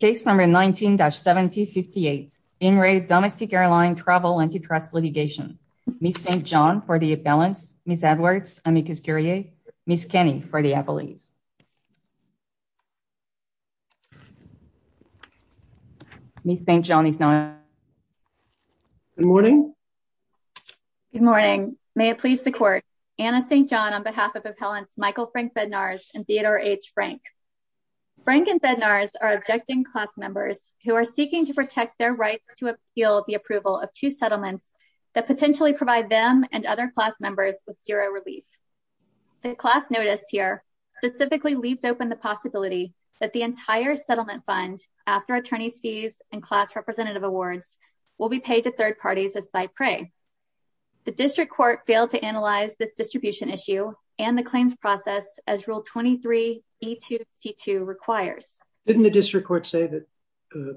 Litigation. Case number 19 1958. Domestic Airline Travel Antitrust Litigation. Ms. St. John for the appellants, Ms. Edwards, Ms. Kenney for the appellees. Ms. St. John is not here. Good morning. Good morning. May it please the court. Anna St. John on behalf of appellants Michael Frank Bednars and Theodore H. Frank. Frank and Bednars are objecting class members who are seeking to protect their rights to appeal the approval of two settlements that potentially provide them and other class members with zero relief. The class notice here specifically leaves open the possibility that the entire settlement fund after attorneys fees and class representative awards will be paid to third parties as site prey. The district court failed to analyze this distribution issue and the claims process as rule 23E2C2 requires. Didn't the district court say that the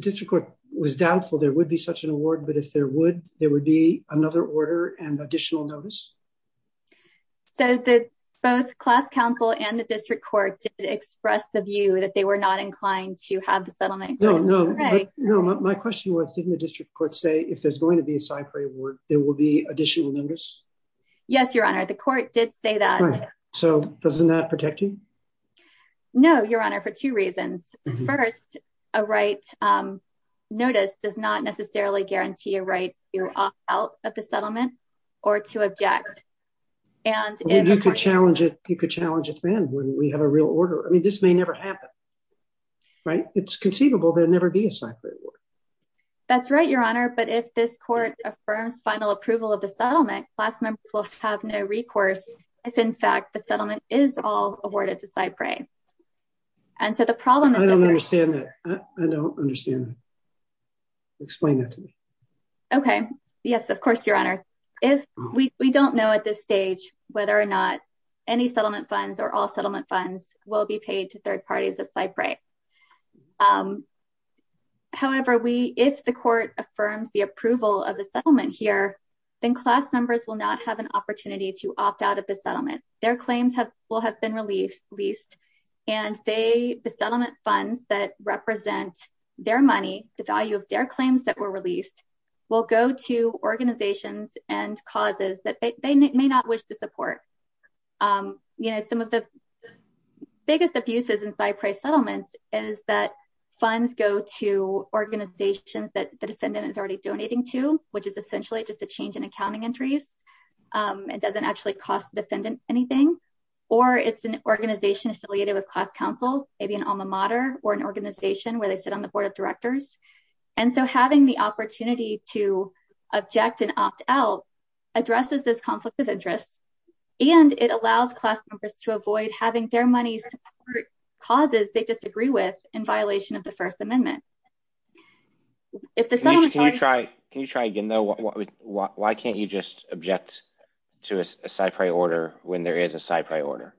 district court was doubtful there would be such an award but if there would, there would be another order and additional notice? So both class counsel and the district court did express the view that they were not inclined to have the settlement. No, no. My question was didn't the district court say if there's going to be a site prey award there will be additional notice? Yes, your honor. The court did say that. So doesn't that protect you? No, your honor, for two reasons. First, a right notice does not necessarily guarantee a right to opt out of the settlement or to object. You could challenge it then when we have a real order. I mean this may never happen. Right? It's conceivable there will never be a site prey award. That's right, your honor, but if this court affirms final approval of the settlement, class members will have no recourse if in fact the settlement is all awarded to site prey. I don't understand that. I don't understand that. Explain that to me. Okay. Yes, of course, your honor. If we don't know at this stage whether or not any settlement funds or all settlement funds will be paid to site prey. However, if the court affirms the approval of the settlement here, then class members will not have an opportunity to opt out of the settlement. Their claims will have been released and the settlement funds that represent their money, the value of their claims that were released, will go to organizations and causes that they may not wish to support. You know, some of the biggest abuses in site prey settlements is that funds go to organizations that the defendant is already donating to, which is essentially just a change in accounting entries. It doesn't actually cost the defendant anything. Or it's an organization affiliated with class counsel, maybe an alma mater or an organization where they sit on the board of directors. And so having the opportunity to object and opt out addresses this conflict of interest, and it allows class members to avoid having their money support causes they disagree with in violation of the first amendment. Can you try again, though? Why can't you just object to a site prey order when there is a site prey order?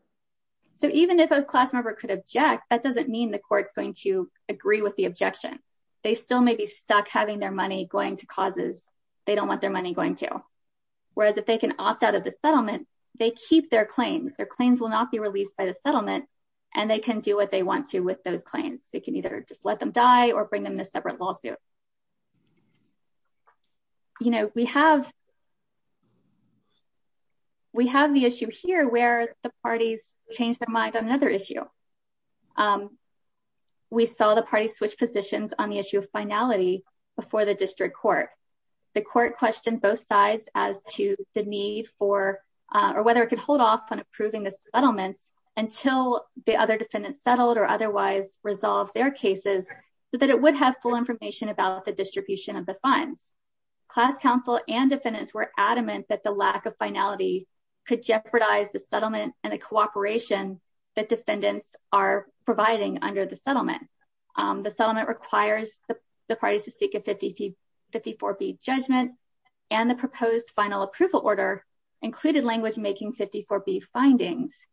So even if a class member could object, that doesn't mean the court is going to agree with the objection. They still may be stuck having their money going to causes they don't want their money going to. Whereas if they can opt out of the settlement, they keep their claims. Their claims will not be released by the settlement, and they can do whatever they want with those claims. They can either just let them die or bring them to a separate lawsuit. You know, we have the issue here where the parties changed their mind on another issue. We saw the parties switch positions on the issue of finality before the district court. The court questioned both sides as to the need for or whether it could hold off on approving the settlements until the other defendants settled or otherwise resolved their cases so that it would have full information about the distribution of the funds. Class counsel and defendants were adamant that the lack of finality could jeopardize the settlement and the cooperation that defendants are providing under the settlement. The settlement requires the parties to seek a 54B judgment, and the proposed final approval order included language making 54B findings.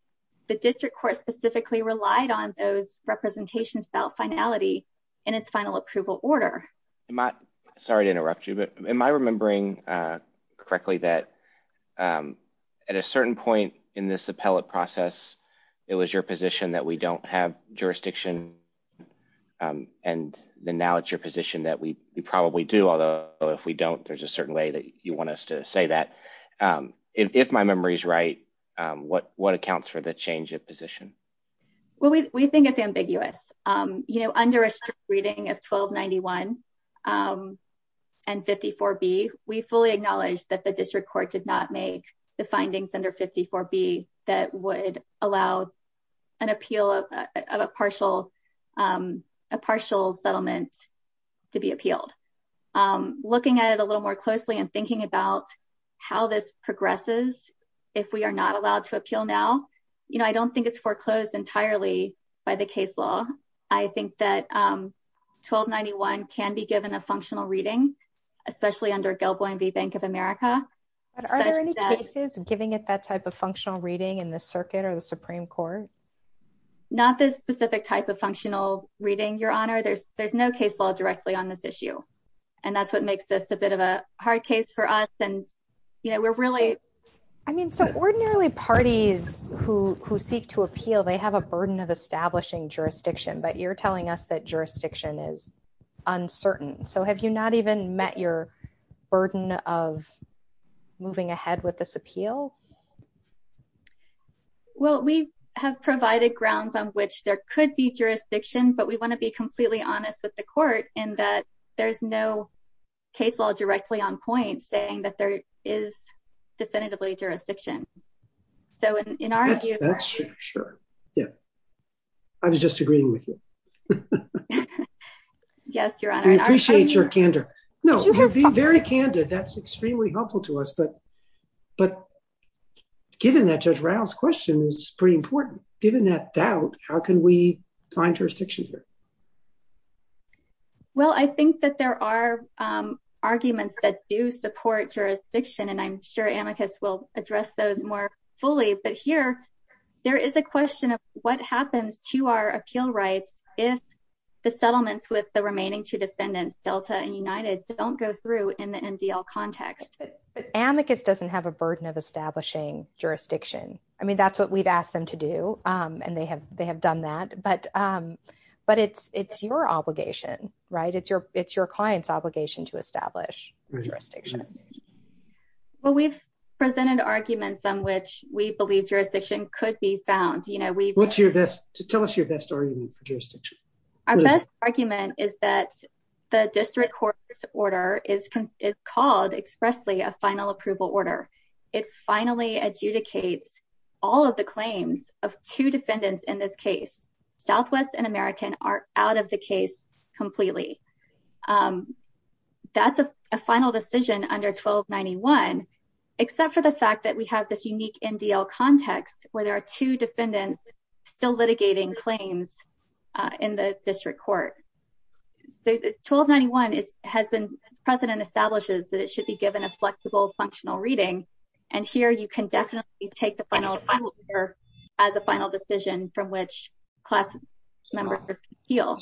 The district court specifically relied on those representations about finality in its final approval order. Sorry to interrupt you, but am I remembering correctly that at a certain point in this appellate process, it was your position that we don't have jurisdiction and then now it's your position that we probably do, although if we don't, there's a certain way that you want us to say that. If my memory is right, what accounts for the change of opinion? Well, we think it's ambiguous. You know, under a strict reading of 1291 and 54B, we fully acknowledge that the district court did not make the findings under 54B that would allow an appeal of a partial settlement to be appealed. Looking at it a little more closely and thinking about how this progresses, if we are not allowed to appeal now, you know, if we are opposed entirely by the case law, I think that 1291 can be given a functional reading, especially under Gelboyne v. Bank of America. Are there any cases giving it that type of functional reading in the circuit or the Supreme Court? Not this specific type of functional reading, your honor. There's no case law directly on this issue, and that's what makes this a bit of a hard case for us and, you know, we're really ‑‑ I mean, so ordinarily parties who seek to appeal, they have a burden of establishing jurisdiction, but you're telling us that jurisdiction is uncertain, so have you not even met your burden of moving ahead with this appeal? Well, we have provided grounds on which there could be jurisdiction, but we want to be in that there's no case law directly on point saying that there is definitively jurisdiction. So in our view ‑‑ Sure. Yeah. I was just agreeing with you. Yes, your honor. We appreciate your candor. No, you're being very candid. That's extremely helpful to us, but given that, Judge Rao's question is pretty important. Given that doubt, how can we find jurisdiction here? Well, I think that there are arguments that do support jurisdiction, and I'm sure amicus will address those more fully, but here there is a question of what happens to our appeal rights if the settlements with the remaining two defendants, Delta and United, don't go through in the NDL context. But amicus doesn't have a burden of establishing jurisdiction. I mean, that's what we've asked them to do, and they have done that, but it's your obligation, right? It's your client's obligation to establish jurisdiction. Well, we've presented arguments on which we believe jurisdiction could be found. Tell us your best argument for jurisdiction. Our best argument is that the district court's order is called expressly a final approval order. It finally adjudicates all of the claims of two defendants in this case. Southwest and American are out of the case completely. That's a final decision under 1291, except for the fact that we have this unique NDL context where there are two defendants still litigating claims in the district court. So 1291 has been the precedent establishes that it should be given a flexible, functional reading, and here you can definitely take the final approval order as a final decision from which class members appeal.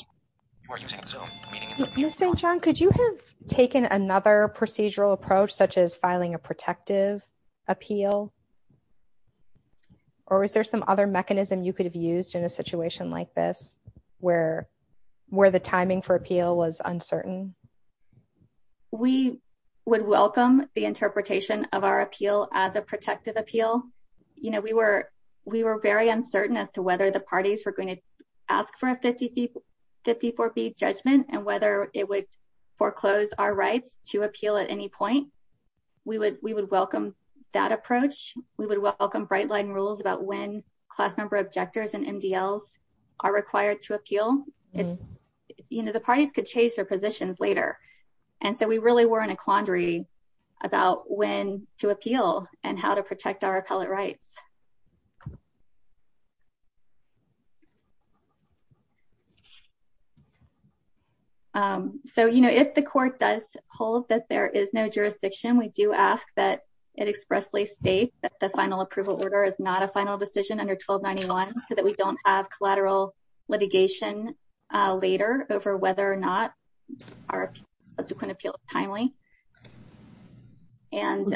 Ms. St. John, could you have taken another procedural approach such as filing a protective appeal? Or is there some other mechanism you could have used in a situation like this where the timing for appeal was uncertain? We would welcome the interpretation of our appeal as a protective appeal. We were very uncertain as to whether the parties were going to ask for a 54B judgment and whether it would foreclose our rights to appeal at any point. We would welcome that approach. We would welcome bright line rules about when class member objectors and NDLs are required to appeal. You know, the parties could change their positions later, and so we really were in a quandary about when to appeal and how to protect our appellate rights. So, you know, if the court does hold that there is no jurisdiction, we do ask that it expressly state that the final approval order is not a final decision under 1291 so that we don't have collateral litigation later over whether or not our subsequent appeal is timely. And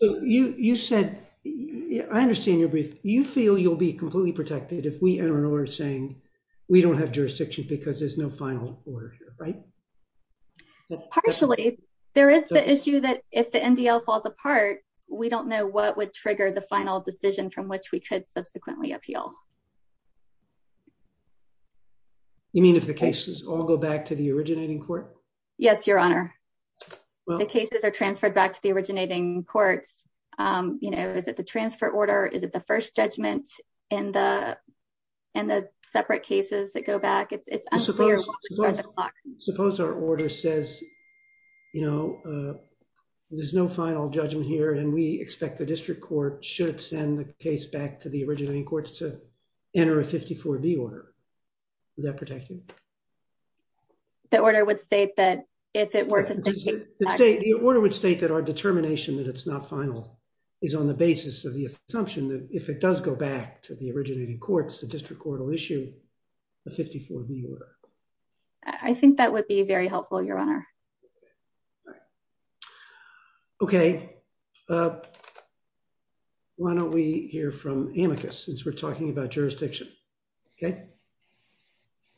you said I understand your brief. You feel you'll be completely protected if we enter an order saying we don't have jurisdiction because there's no final order here, right? Partially. There is the issue that if the NDL falls apart, we don't know what would trigger the final decision from which we could subsequently appeal. You mean if the cases all go back to the originating court? Yes, your honor. The cases are transferred back to the originating courts. You know, is it the transfer order? Is it the first judgment in the separate cases that go back? It's unclear. Suppose our order says that there's no final judgment here and we expect the district court should send the case back to the originating courts to enter a 54B order. Would that protect you? The order would state that if it were to stay. The order would state that our determination that it's not final is on the basis of the assumption that if it does go back to the originating courts, the district court will issue a 54B order. I think that would be very helpful, your honor. Okay. Why don't we hear from amicus since we're talking about jurisdiction? Okay.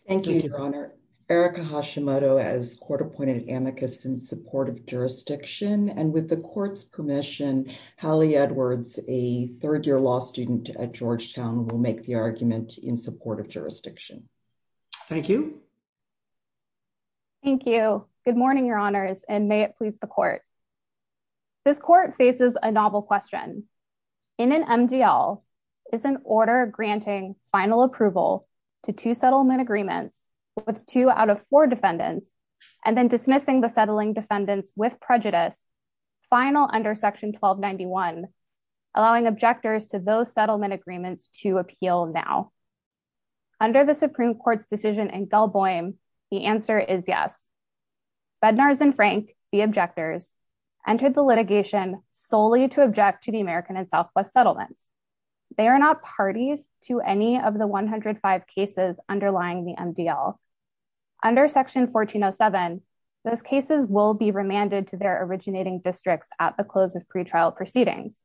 Thank you, your honor. Erica Hashimoto as court appointed amicus in support of jurisdiction and with the court's permission, Hallie Edwards, a third-year law student at Georgetown will make the argument in support of jurisdiction. Thank you. Thank you. Good morning. Good morning, your honors, and may it please the court. This court faces a novel question. In an MDL, is an order granting final approval to two settlement agreements with two out of four defendants and then dismissing the settling defendants with prejudice final under section 1291 allowing objectors to those settlement agreements to appeal now? Under the Supreme Court's decision in Gelboim, the answer is yes. Bednars and Frank, the objectors entered the litigation solely to object to the American and Southwest settlements. They are not parties to any of the 105 cases underlying the MDL. Under section 1407, those cases will be remanded to their originating districts at the close of pretrial proceedings.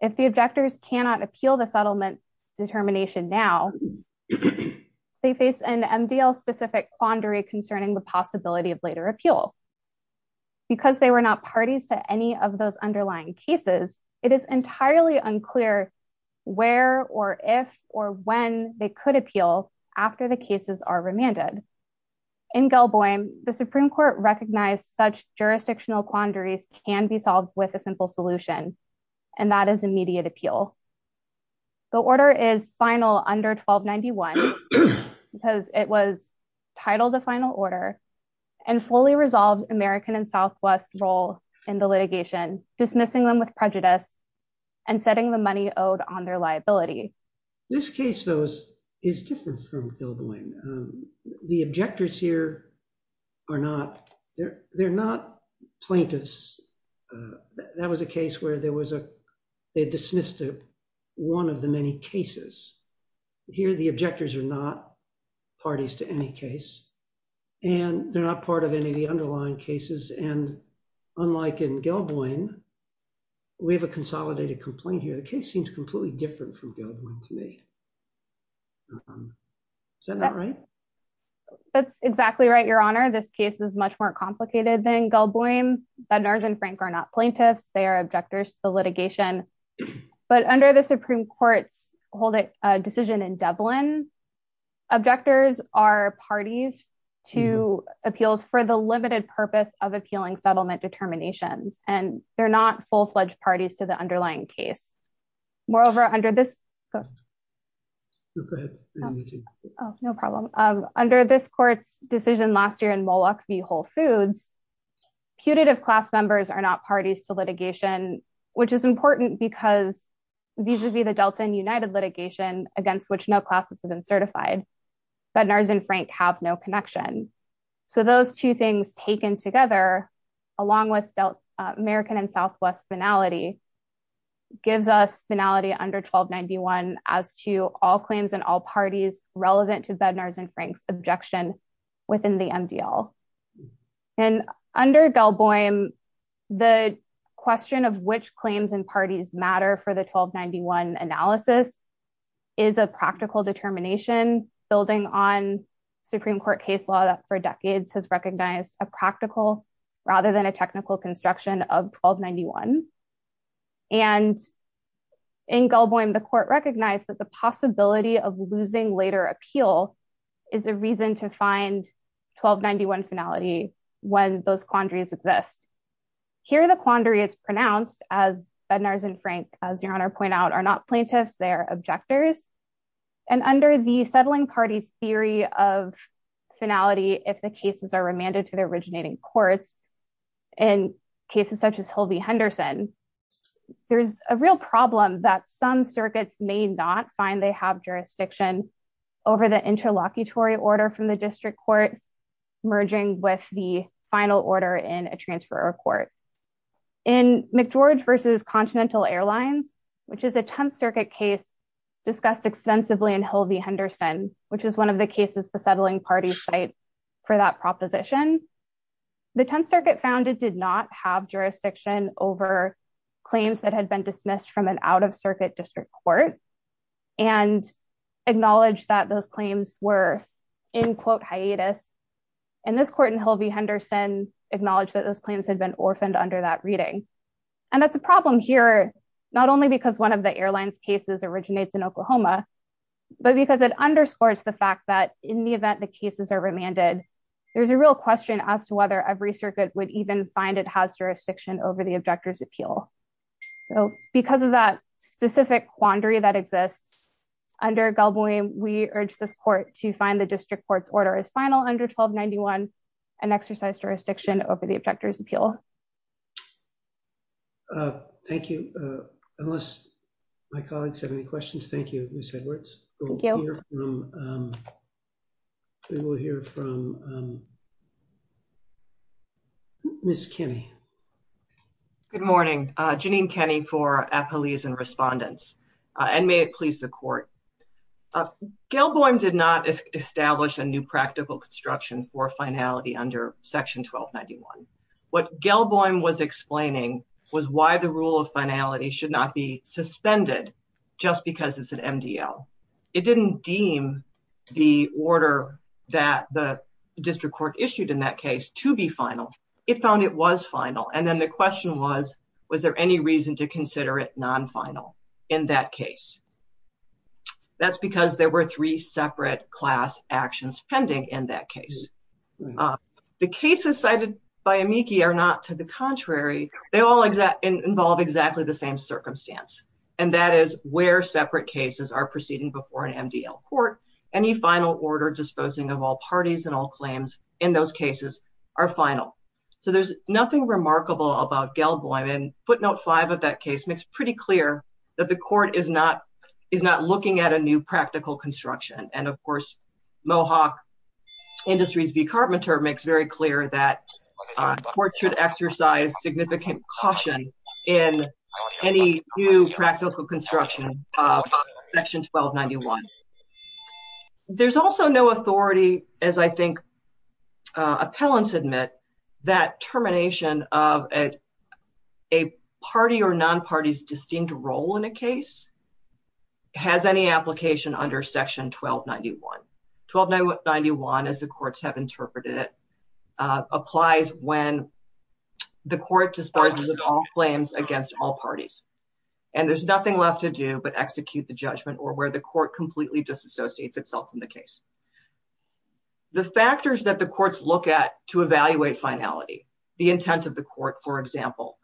If the objectors cannot appeal the settlement determination now, they face an MDL-specific quandary concerning the objectors' ability to appeal. Because they were not parties to any of those underlying cases, it is entirely unclear where or if or when they could appeal after the cases are remanded. In Gelboim, the Supreme Court recognized such jurisdictional quandaries can be solved with a simple solution, and that is immediate appeal. The order is final under 1291 because it was titled a final resolves American and Southwest role in the litigation, dismissing them with prejudice and setting the money owed on their liability. This case, though, is different from Gelboim. The objectors here are not plaintiffs. That was a case where there was a they dismissed one of the many cases. Here the objectors are not parties to any case, and they're not plaintiffs. And so the case is different from Gelboim. than Gelboim. The case is much more complicated than Gelboim. The case seems completely different from Gelboim to me. Is that not right? That's exactly right, Your Honor. This case is much more complicated than Gelboim. Bednarz and Frank are not plaintiffs. They are objectors to the litigation. But under the Supreme Court's decision in Dublin, objectors are not part of the case. And so they have no legitimate purpose of appealing settlement determinations, and they're not full-fledged parties to the underlying case. Moreover, under this go ahead. No problem. Under this court's decision last year in Moloch v. Whole Foods, putative class members are not parties to litigation, which is these two things taken together along with American and Southwest finality gives us finality under 1291 as to all claims and all parties relevant to Bednar's and Frank's objection within the MDL. And under Gelboim, the question of which claims and parties matter for the 1291 analysis is a practical determination building on Supreme Court case law that for the most part recognized a practical rather than a technical construction of 1291, and in Gelboim, the court recognized that the possibility of losing later appeal is a reason to find 1291 finality when those quandaries exist. Here the quandary is pronounced as Bednar's and Frank, as your Honor pointed out, are not plaintiffs, they're objectors, and under the settling parties theory of finality, if the cases are remanded to the originating courts, in cases such as Hildy Henderson, there's a real problem that some circuits may not find they have jurisdiction over the interlocutory order from the district court merging with the final order in a transfer court. In McGeorge v. Continental Airlines, which is a 10th circuit case discussed extensively in Hildy Henderson, which is when one of the cases the settling parties cite for that proposition, the 10th circuit found it did not have jurisdiction over claims that had been dismissed from an out-of-circuit district court, and acknowledged that those claims were in quote hiatus, and this court in Hildy Henderson acknowledged that those claims had been orphaned under that reading, and that's a problem here not only because one of the airline's cases originates in Oklahoma, but because it acknowledges that in the event the cases are remanded, there's a real question as to whether every circuit would even find it has jurisdiction over the objector's appeal. So because of that specific quandary that exists, under Galboy, we urge this court to as final under 1291 and exercise jurisdiction over the objector's appeal. Thank you. Unless my colleagues have any questions, thank you, Miss Edwards. Thank you. We will hear from Miss Kenny. Good morning. Janine Kenny for Appalese and Respondents, and may it please the court. Galboy did not establish a new practical construction for finality under section 1291. What Galboy was explaining was why the rule of finality should not be suspended just because it's an MDL. It didn't deem the order that the district court issued in that case to be final. It found it was final, and then the question was, was there any reason to consider it non-final in that case? That's because there were three separate class actions pending in that case. The cases cited by amici are not to the contrary. They all involve exactly the same circumstance, and that is where separate cases are proceeding before an MDL court. Any final order disposing of all parties and all claims in those cases are final. So there's nothing remarkable about Galboy, and footnote five of that case makes pretty clear that the court is not looking at a new practical construction, and, of course, Mohawk Industries v. Carpenter makes very clear that courts should exercise significant caution in any new practical construction of section 1291. There's also no authority, as I think appellants admit, that termination of a party or non-party's distinct role in a case has any application under section 1291. 1291, as the courts have interpreted it, applies when the court disposes of all claims against all parties, and there's nothing left to do but execute the judgment or where the court completely disassociates itself from the case. The factors that the courts look at to evaluate finality, the intent of the court, for example,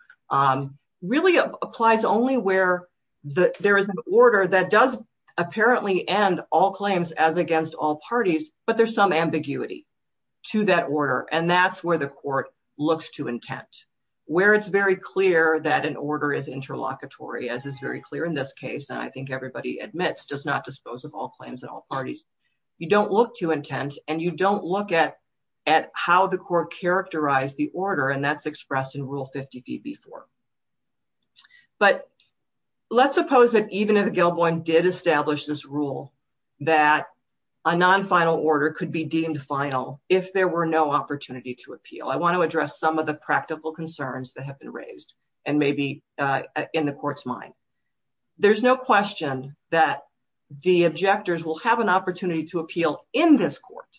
really applies only where there is an order that does apparently end all claims as against all parties, but there's some ambiguity to that order, and that's where the court looks to intent, where it's very clear that an order is interlocutory, as is very clear in this case, and I think everybody admits, does not dispose of all claims at all parties. You don't look to intent, and you don't look at how the court characterized the order, and that's expressed in Rule 50B4. But let's suppose that even if Gilboin did establish this rule that a non-final order could be deemed final if there were no opportunity to appeal. I want to address some of the practical concerns that have been raised and maybe in the court's mind. There's no question that the objectors will have an opportunity to appeal in this court,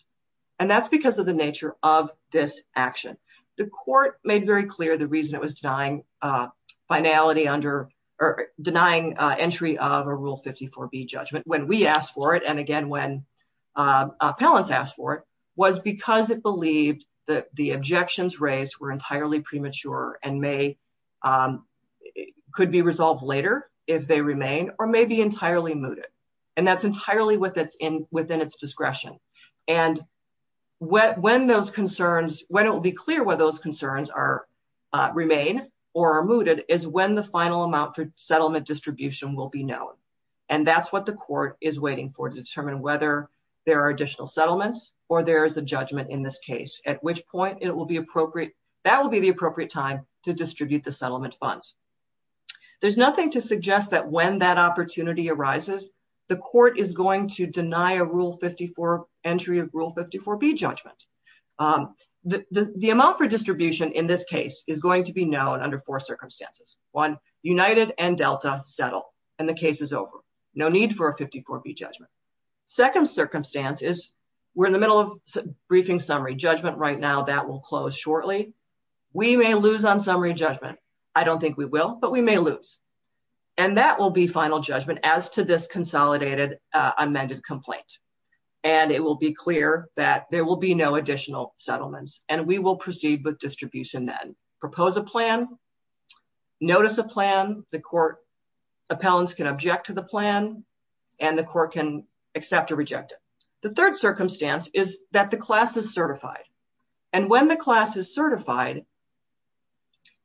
and that's because of the nature of this action. The court made very clear the reason it was denying finality under or denying entry of a Rule 54B judgment when we asked the court for it, and again when appellants asked for it, was because it believed that the objections raised were entirely premature and may could be resolved later if they remain or may be entirely mooted, and that's entirely within its discretion, and when those concerns, when it will be clear whether those concerns remain or are mooted is when the final amount for settlement distribution will be known, and that's what the court is waiting for to determine whether there are additional settlements or there's a judgment in this case at which point it will be appropriate, that will be the appropriate time to distribute the settlement funds. There's nothing to suggest that when that opportunity arises, the court is going to deny a Rule 54 entry of Rule 54B judgment. The amount for distribution in this case is going to be known under four circumstances. One, United and Delta settle, and then the case is over. No need for a 54B judgment. Second circumstance is we're in the middle of briefing summary judgment right now. That will close shortly. We may lose on summary judgment. I don't think we will, but we may lose, and that will be final judgment as to this consolidated amended complaint, and it will be clear that there will be no additional settlements, and we will proceed with distribution then. Propose a plan, notice a plan. The court appellants can object to the plan, and the court can accept or reject it. The third circumstance is that the class is certified, and when the class is certified,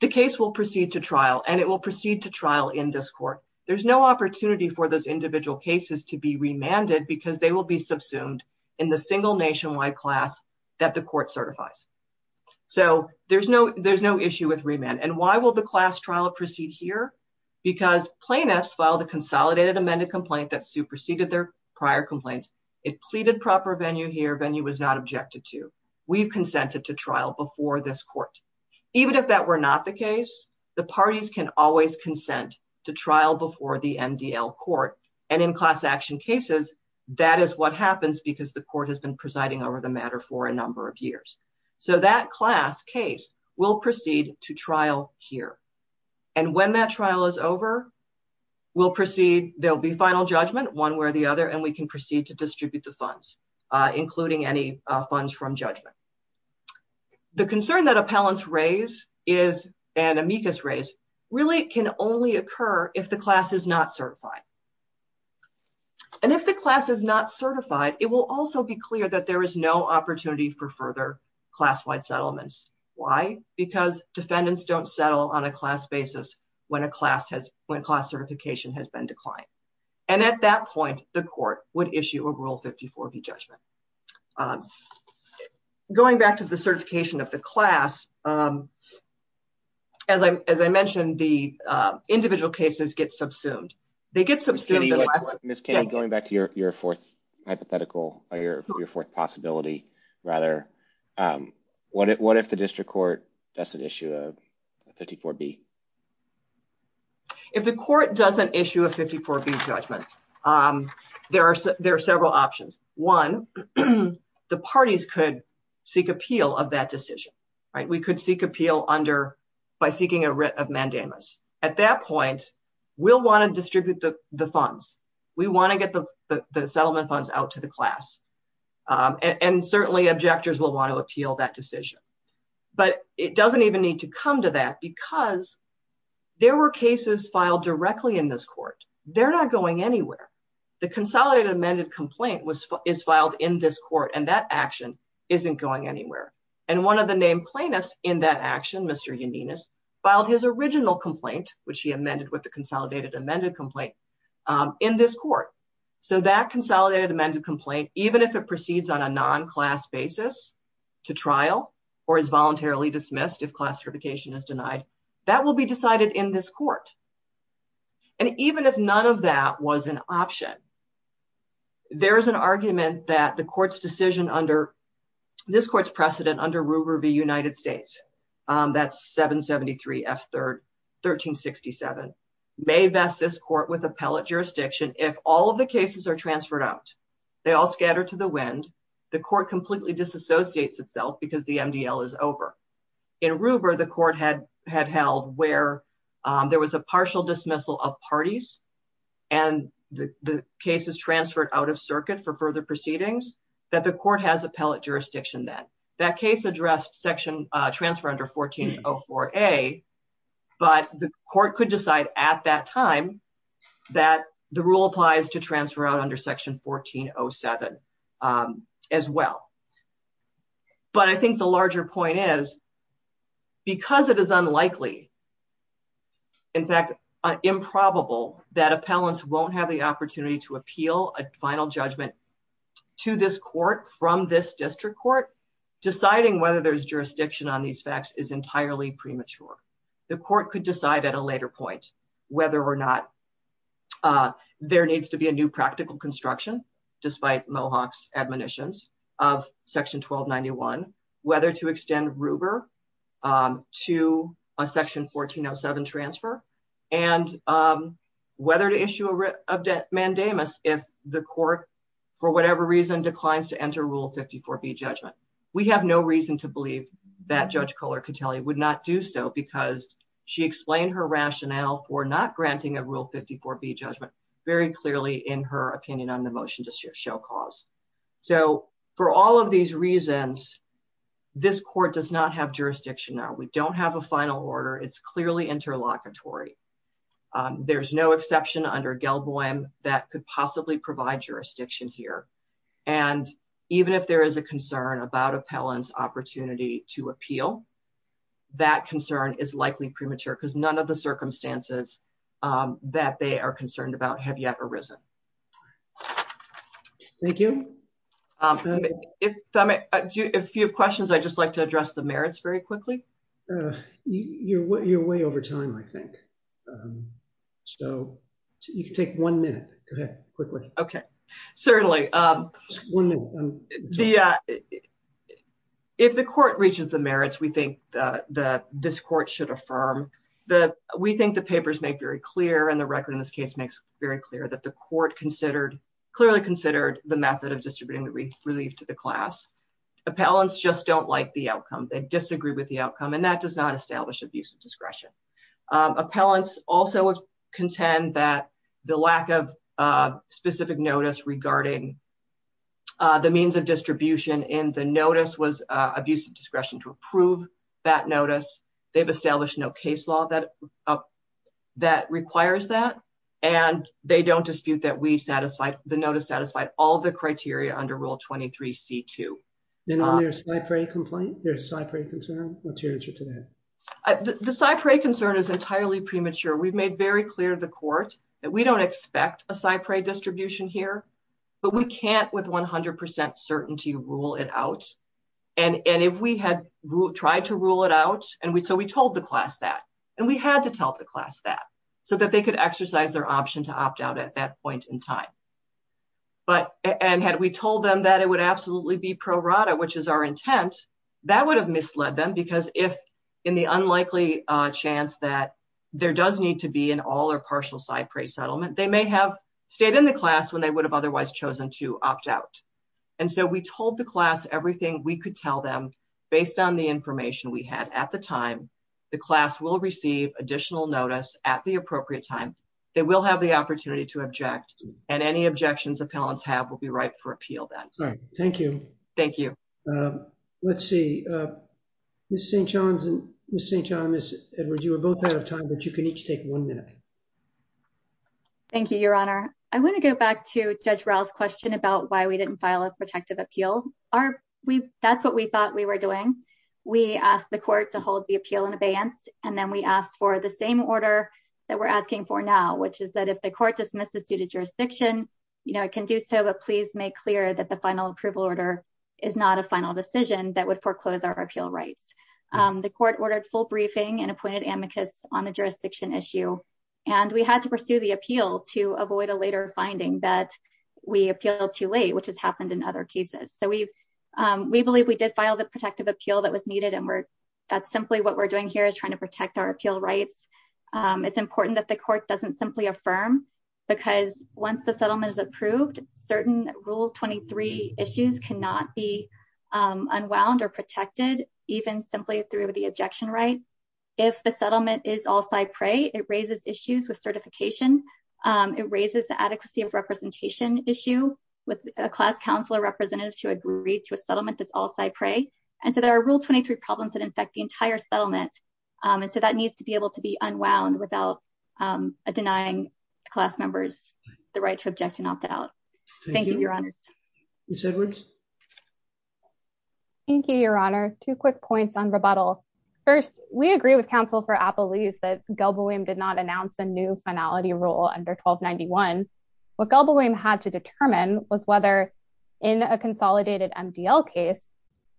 the case will proceed to trial, and it will proceed to trial in this court. There's no opportunity for those individual cases to be remanded because they will be subsumed in the single nationwide class that the court certifies, so there's no issue with remand, and why will the class trial proceed here? Because plaintiffs filed a consolidated amended complaint that superseded their prior complaints. It pleaded proper venue here. Venue was not objected to. We've consented to trial before this court. Even if that were not the case, the parties can always consent to trial before the MDL court, and in class action cases, that is what happens because the court has been presiding over the matter for a number of years, so that class case will proceed to trial here, and when that trial is over, we'll proceed, there will be final judgment one way or the other, and we can proceed to distribute the funds, including any funds from judgment. The concern that appellants raise is, and amicus raise, really can only occur if the class is not certified, and if the class is not certified, it will also be clear that there is no opportunity for further class-wide settlements. Why? Because defendants don't settle on a class basis when a class certification has been declined, and at that point, the court would issue a rule 54B judgment. Going back to the certification of the class, as I mentioned, the individual cases get subsumed. They get subsumed. Ms. Kennedy, going back to your fourth hypothetical, your fourth possibility, rather, what if the district court does issue a rule 54B? If the court doesn't issue a 54B judgment, there are several options. One, the parties could seek appeal of that decision. We could seek appeal by seeking a writ of mandamus. At that point, we'll want to distribute the funds. We want to get the settlement funds out to the class, and certainly objectors will want to appeal that decision, but it doesn't even need to come to that point because there were cases filed directly in this court. They're not going anywhere. The consolidated amended complaint is filed in this court and that action isn't going anywhere, and one of the named plaintiffs in that action, Mr. Yaninas, filed his original complaint, which he amended with the consolidated amended complaint, in this court, so that consolidated amended complaint, even if it proceeds on a non-class basis to trial or is voluntarily dismissed if class certification fails, that will be decided in this court, and even if none of that was an option, there is an argument that the court's decision under this court's precedent under Ruber v. United States, that's 773 F 1367, may vest this court with appellate jurisdiction if all of the cases are transferred out, they all scatter to the wind, the court completely disassociates itself because the MDL is over. In Ruber, the court had held where there was a partial dismissal of parties, and the case is transferred out of circuit for further proceedings, that the court has appellate jurisdiction then. That case addressed section transfer under 1404A, but the court could decide at that time that the rule applies to transfer out under section 1407 as well. But I think the larger point is because it is unlikely, in fact improbable that appellants won't have the opportunity to appeal a final judgment to this court from this district court, deciding whether there's jurisdiction on these facts is entirely premature. The court could decide at a later point whether or not there needs to be a new practical construction despite Mohawk's admonitions of section 1291, whether to extend Ruber to a section 1407 transfer, and whether to issue a mandamus if the court for whatever reason declines to enter rule 54B judgment. We have no reason to believe that Judge Kohler-Catelli would not do so because she explained her rationale for not granting a rule 54B judgment very clearly in her opinion on the motion to show cause. So for all of these reasons, this court does not have jurisdiction now. We don't have a final order. It's clearly interlocutory. There's no exception under Gelboim that could possibly provide jurisdiction here. And even if there is a concern about appellant's opportunity to appeal, that concern is likely premature because none of the circumstances that they are concerned about have yet arisen. Thank you. If you have questions, I'd just like to address the merits very quickly. You're way over time, I think. So you can take one minute. Go ahead. Quickly. Okay. Certainly. One minute. If the court reaches the merits we think that this court should affirm, we think the papers make very clear and the record in this case makes very clear that the court considered, clearly considered the method of distributing the relief to the class. Appellants just don't like the outcome. They disagree with the outcome and that does not establish abuse of discretion. Appellants also contend that the lack of specific notice regarding the means of distribution in the notice was abuse of discretion to approve that notice. They've established no case law that requires that, and they don't dispute that we satisfied the notice satisfied all the criteria under rule 23C2. And on your Cypre complaint, your Cypre concern, what's your answer to that? The Cypre concern is entirely premature. We've made very clear to the court that we don't expect a Cypre distribution here, but we can't with 100% certainty rule it out, and if we had tried to rule it out and so we told the class that, and we had to tell the class that so that they could exercise their option to opt out at that point in time. But and had we told them that it would absolutely be pro rata, which is our intent, that would have misled them because if in the unlikely chance that there does need to be an all or partial Cypre settlement, they may have stayed in the class when they would have otherwise chosen to opt out. And so we told the class everything we could tell them based on the information we had at the time. The class will receive additional notice at the appropriate time. They will have the opportunity to object, and any objections appellants have will be right for appeal then. All right. Thank you. Thank you. Let's see. Ms. St. John and Ms. Edwards, you were both out of time, but you can each take one minute. Thank you, Your Honor. I want to go back to Judge Rall's question about why we didn't file a protective appeal. That's what we thought we were doing. We asked the court to hold the appeal in abeyance, and then we asked for the same order that we're asking for now, which is that if the court dismisses due to jurisdiction, it can do so, but please make clear that the final approval order is not a final decision that would foreclose our appeal rights. The court ordered full briefing and appointed amicus on the jurisdiction issue, and we had to pursue the appeal to avoid a later finding that we appealed too late, which has happened in other cases. So we believe we did file the protective appeal that was needed, and that's simply what we're doing here is trying to protect our appeal rights. We believe that the court doesn't simply affirm because once the settlement is approved, certain rule 23 issues cannot be unwound or protected, even simply through the objection right. If the settlement is all-side prey, it raises issues with certification. It raises the adequacy of representation issue with a class counselor representative to agree to a settlement that's all-side prey, and so there are rule 23 problems that infect the entire settlement, and so that needs to be able to be unwound without a denying class members the right to object and opt out. Thank you, Your Honor. Thank you. Ms. Edwards. Thank you, Your Honor. Two quick points on rebuttal. First, we agree with counsel for Appelese that Gelboeum did not announce a new finality rule under 1291. What Gelboeum had to determine was whether in a consolidated MDL case,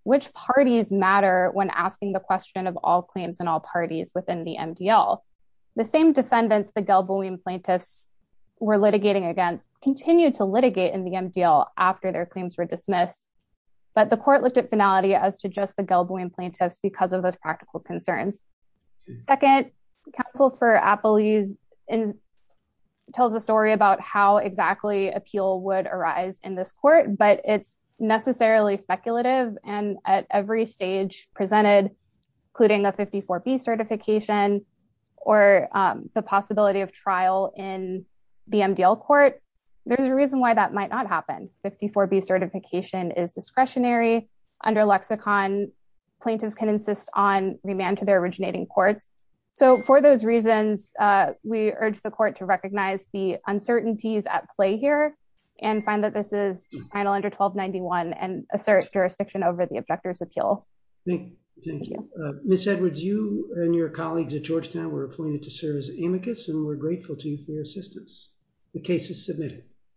which parties matter when asking the question of all claims and all parties within the MDL. The same defendants the Gelboeum plaintiffs were litigating against continued to litigate in the MDL after their claims were dismissed, but the court looked at finality as to just the Gelboeum plaintiffs because of those practical concerns. Second, counsel for Appelese tells a story about how exactly appeal would arise in this court, but it's necessarily speculative and at every stage presented, including a 54B certification, or the possibility of trial in the MDL court, there's a reason why that might not happen. 54B certification is discretionary. Under lexicon, plaintiffs can insist on remand to their originating courts, so for those reasons, we urge the court to recognize the uncertainties at play here and find that this is final under 1291 and assert jurisdiction over the objector's appeal. Thank you. Ms. Edwards, you and your colleagues at Georgetown were appointed to serve as amicus and we're grateful to you for your assistance. The case is submitted.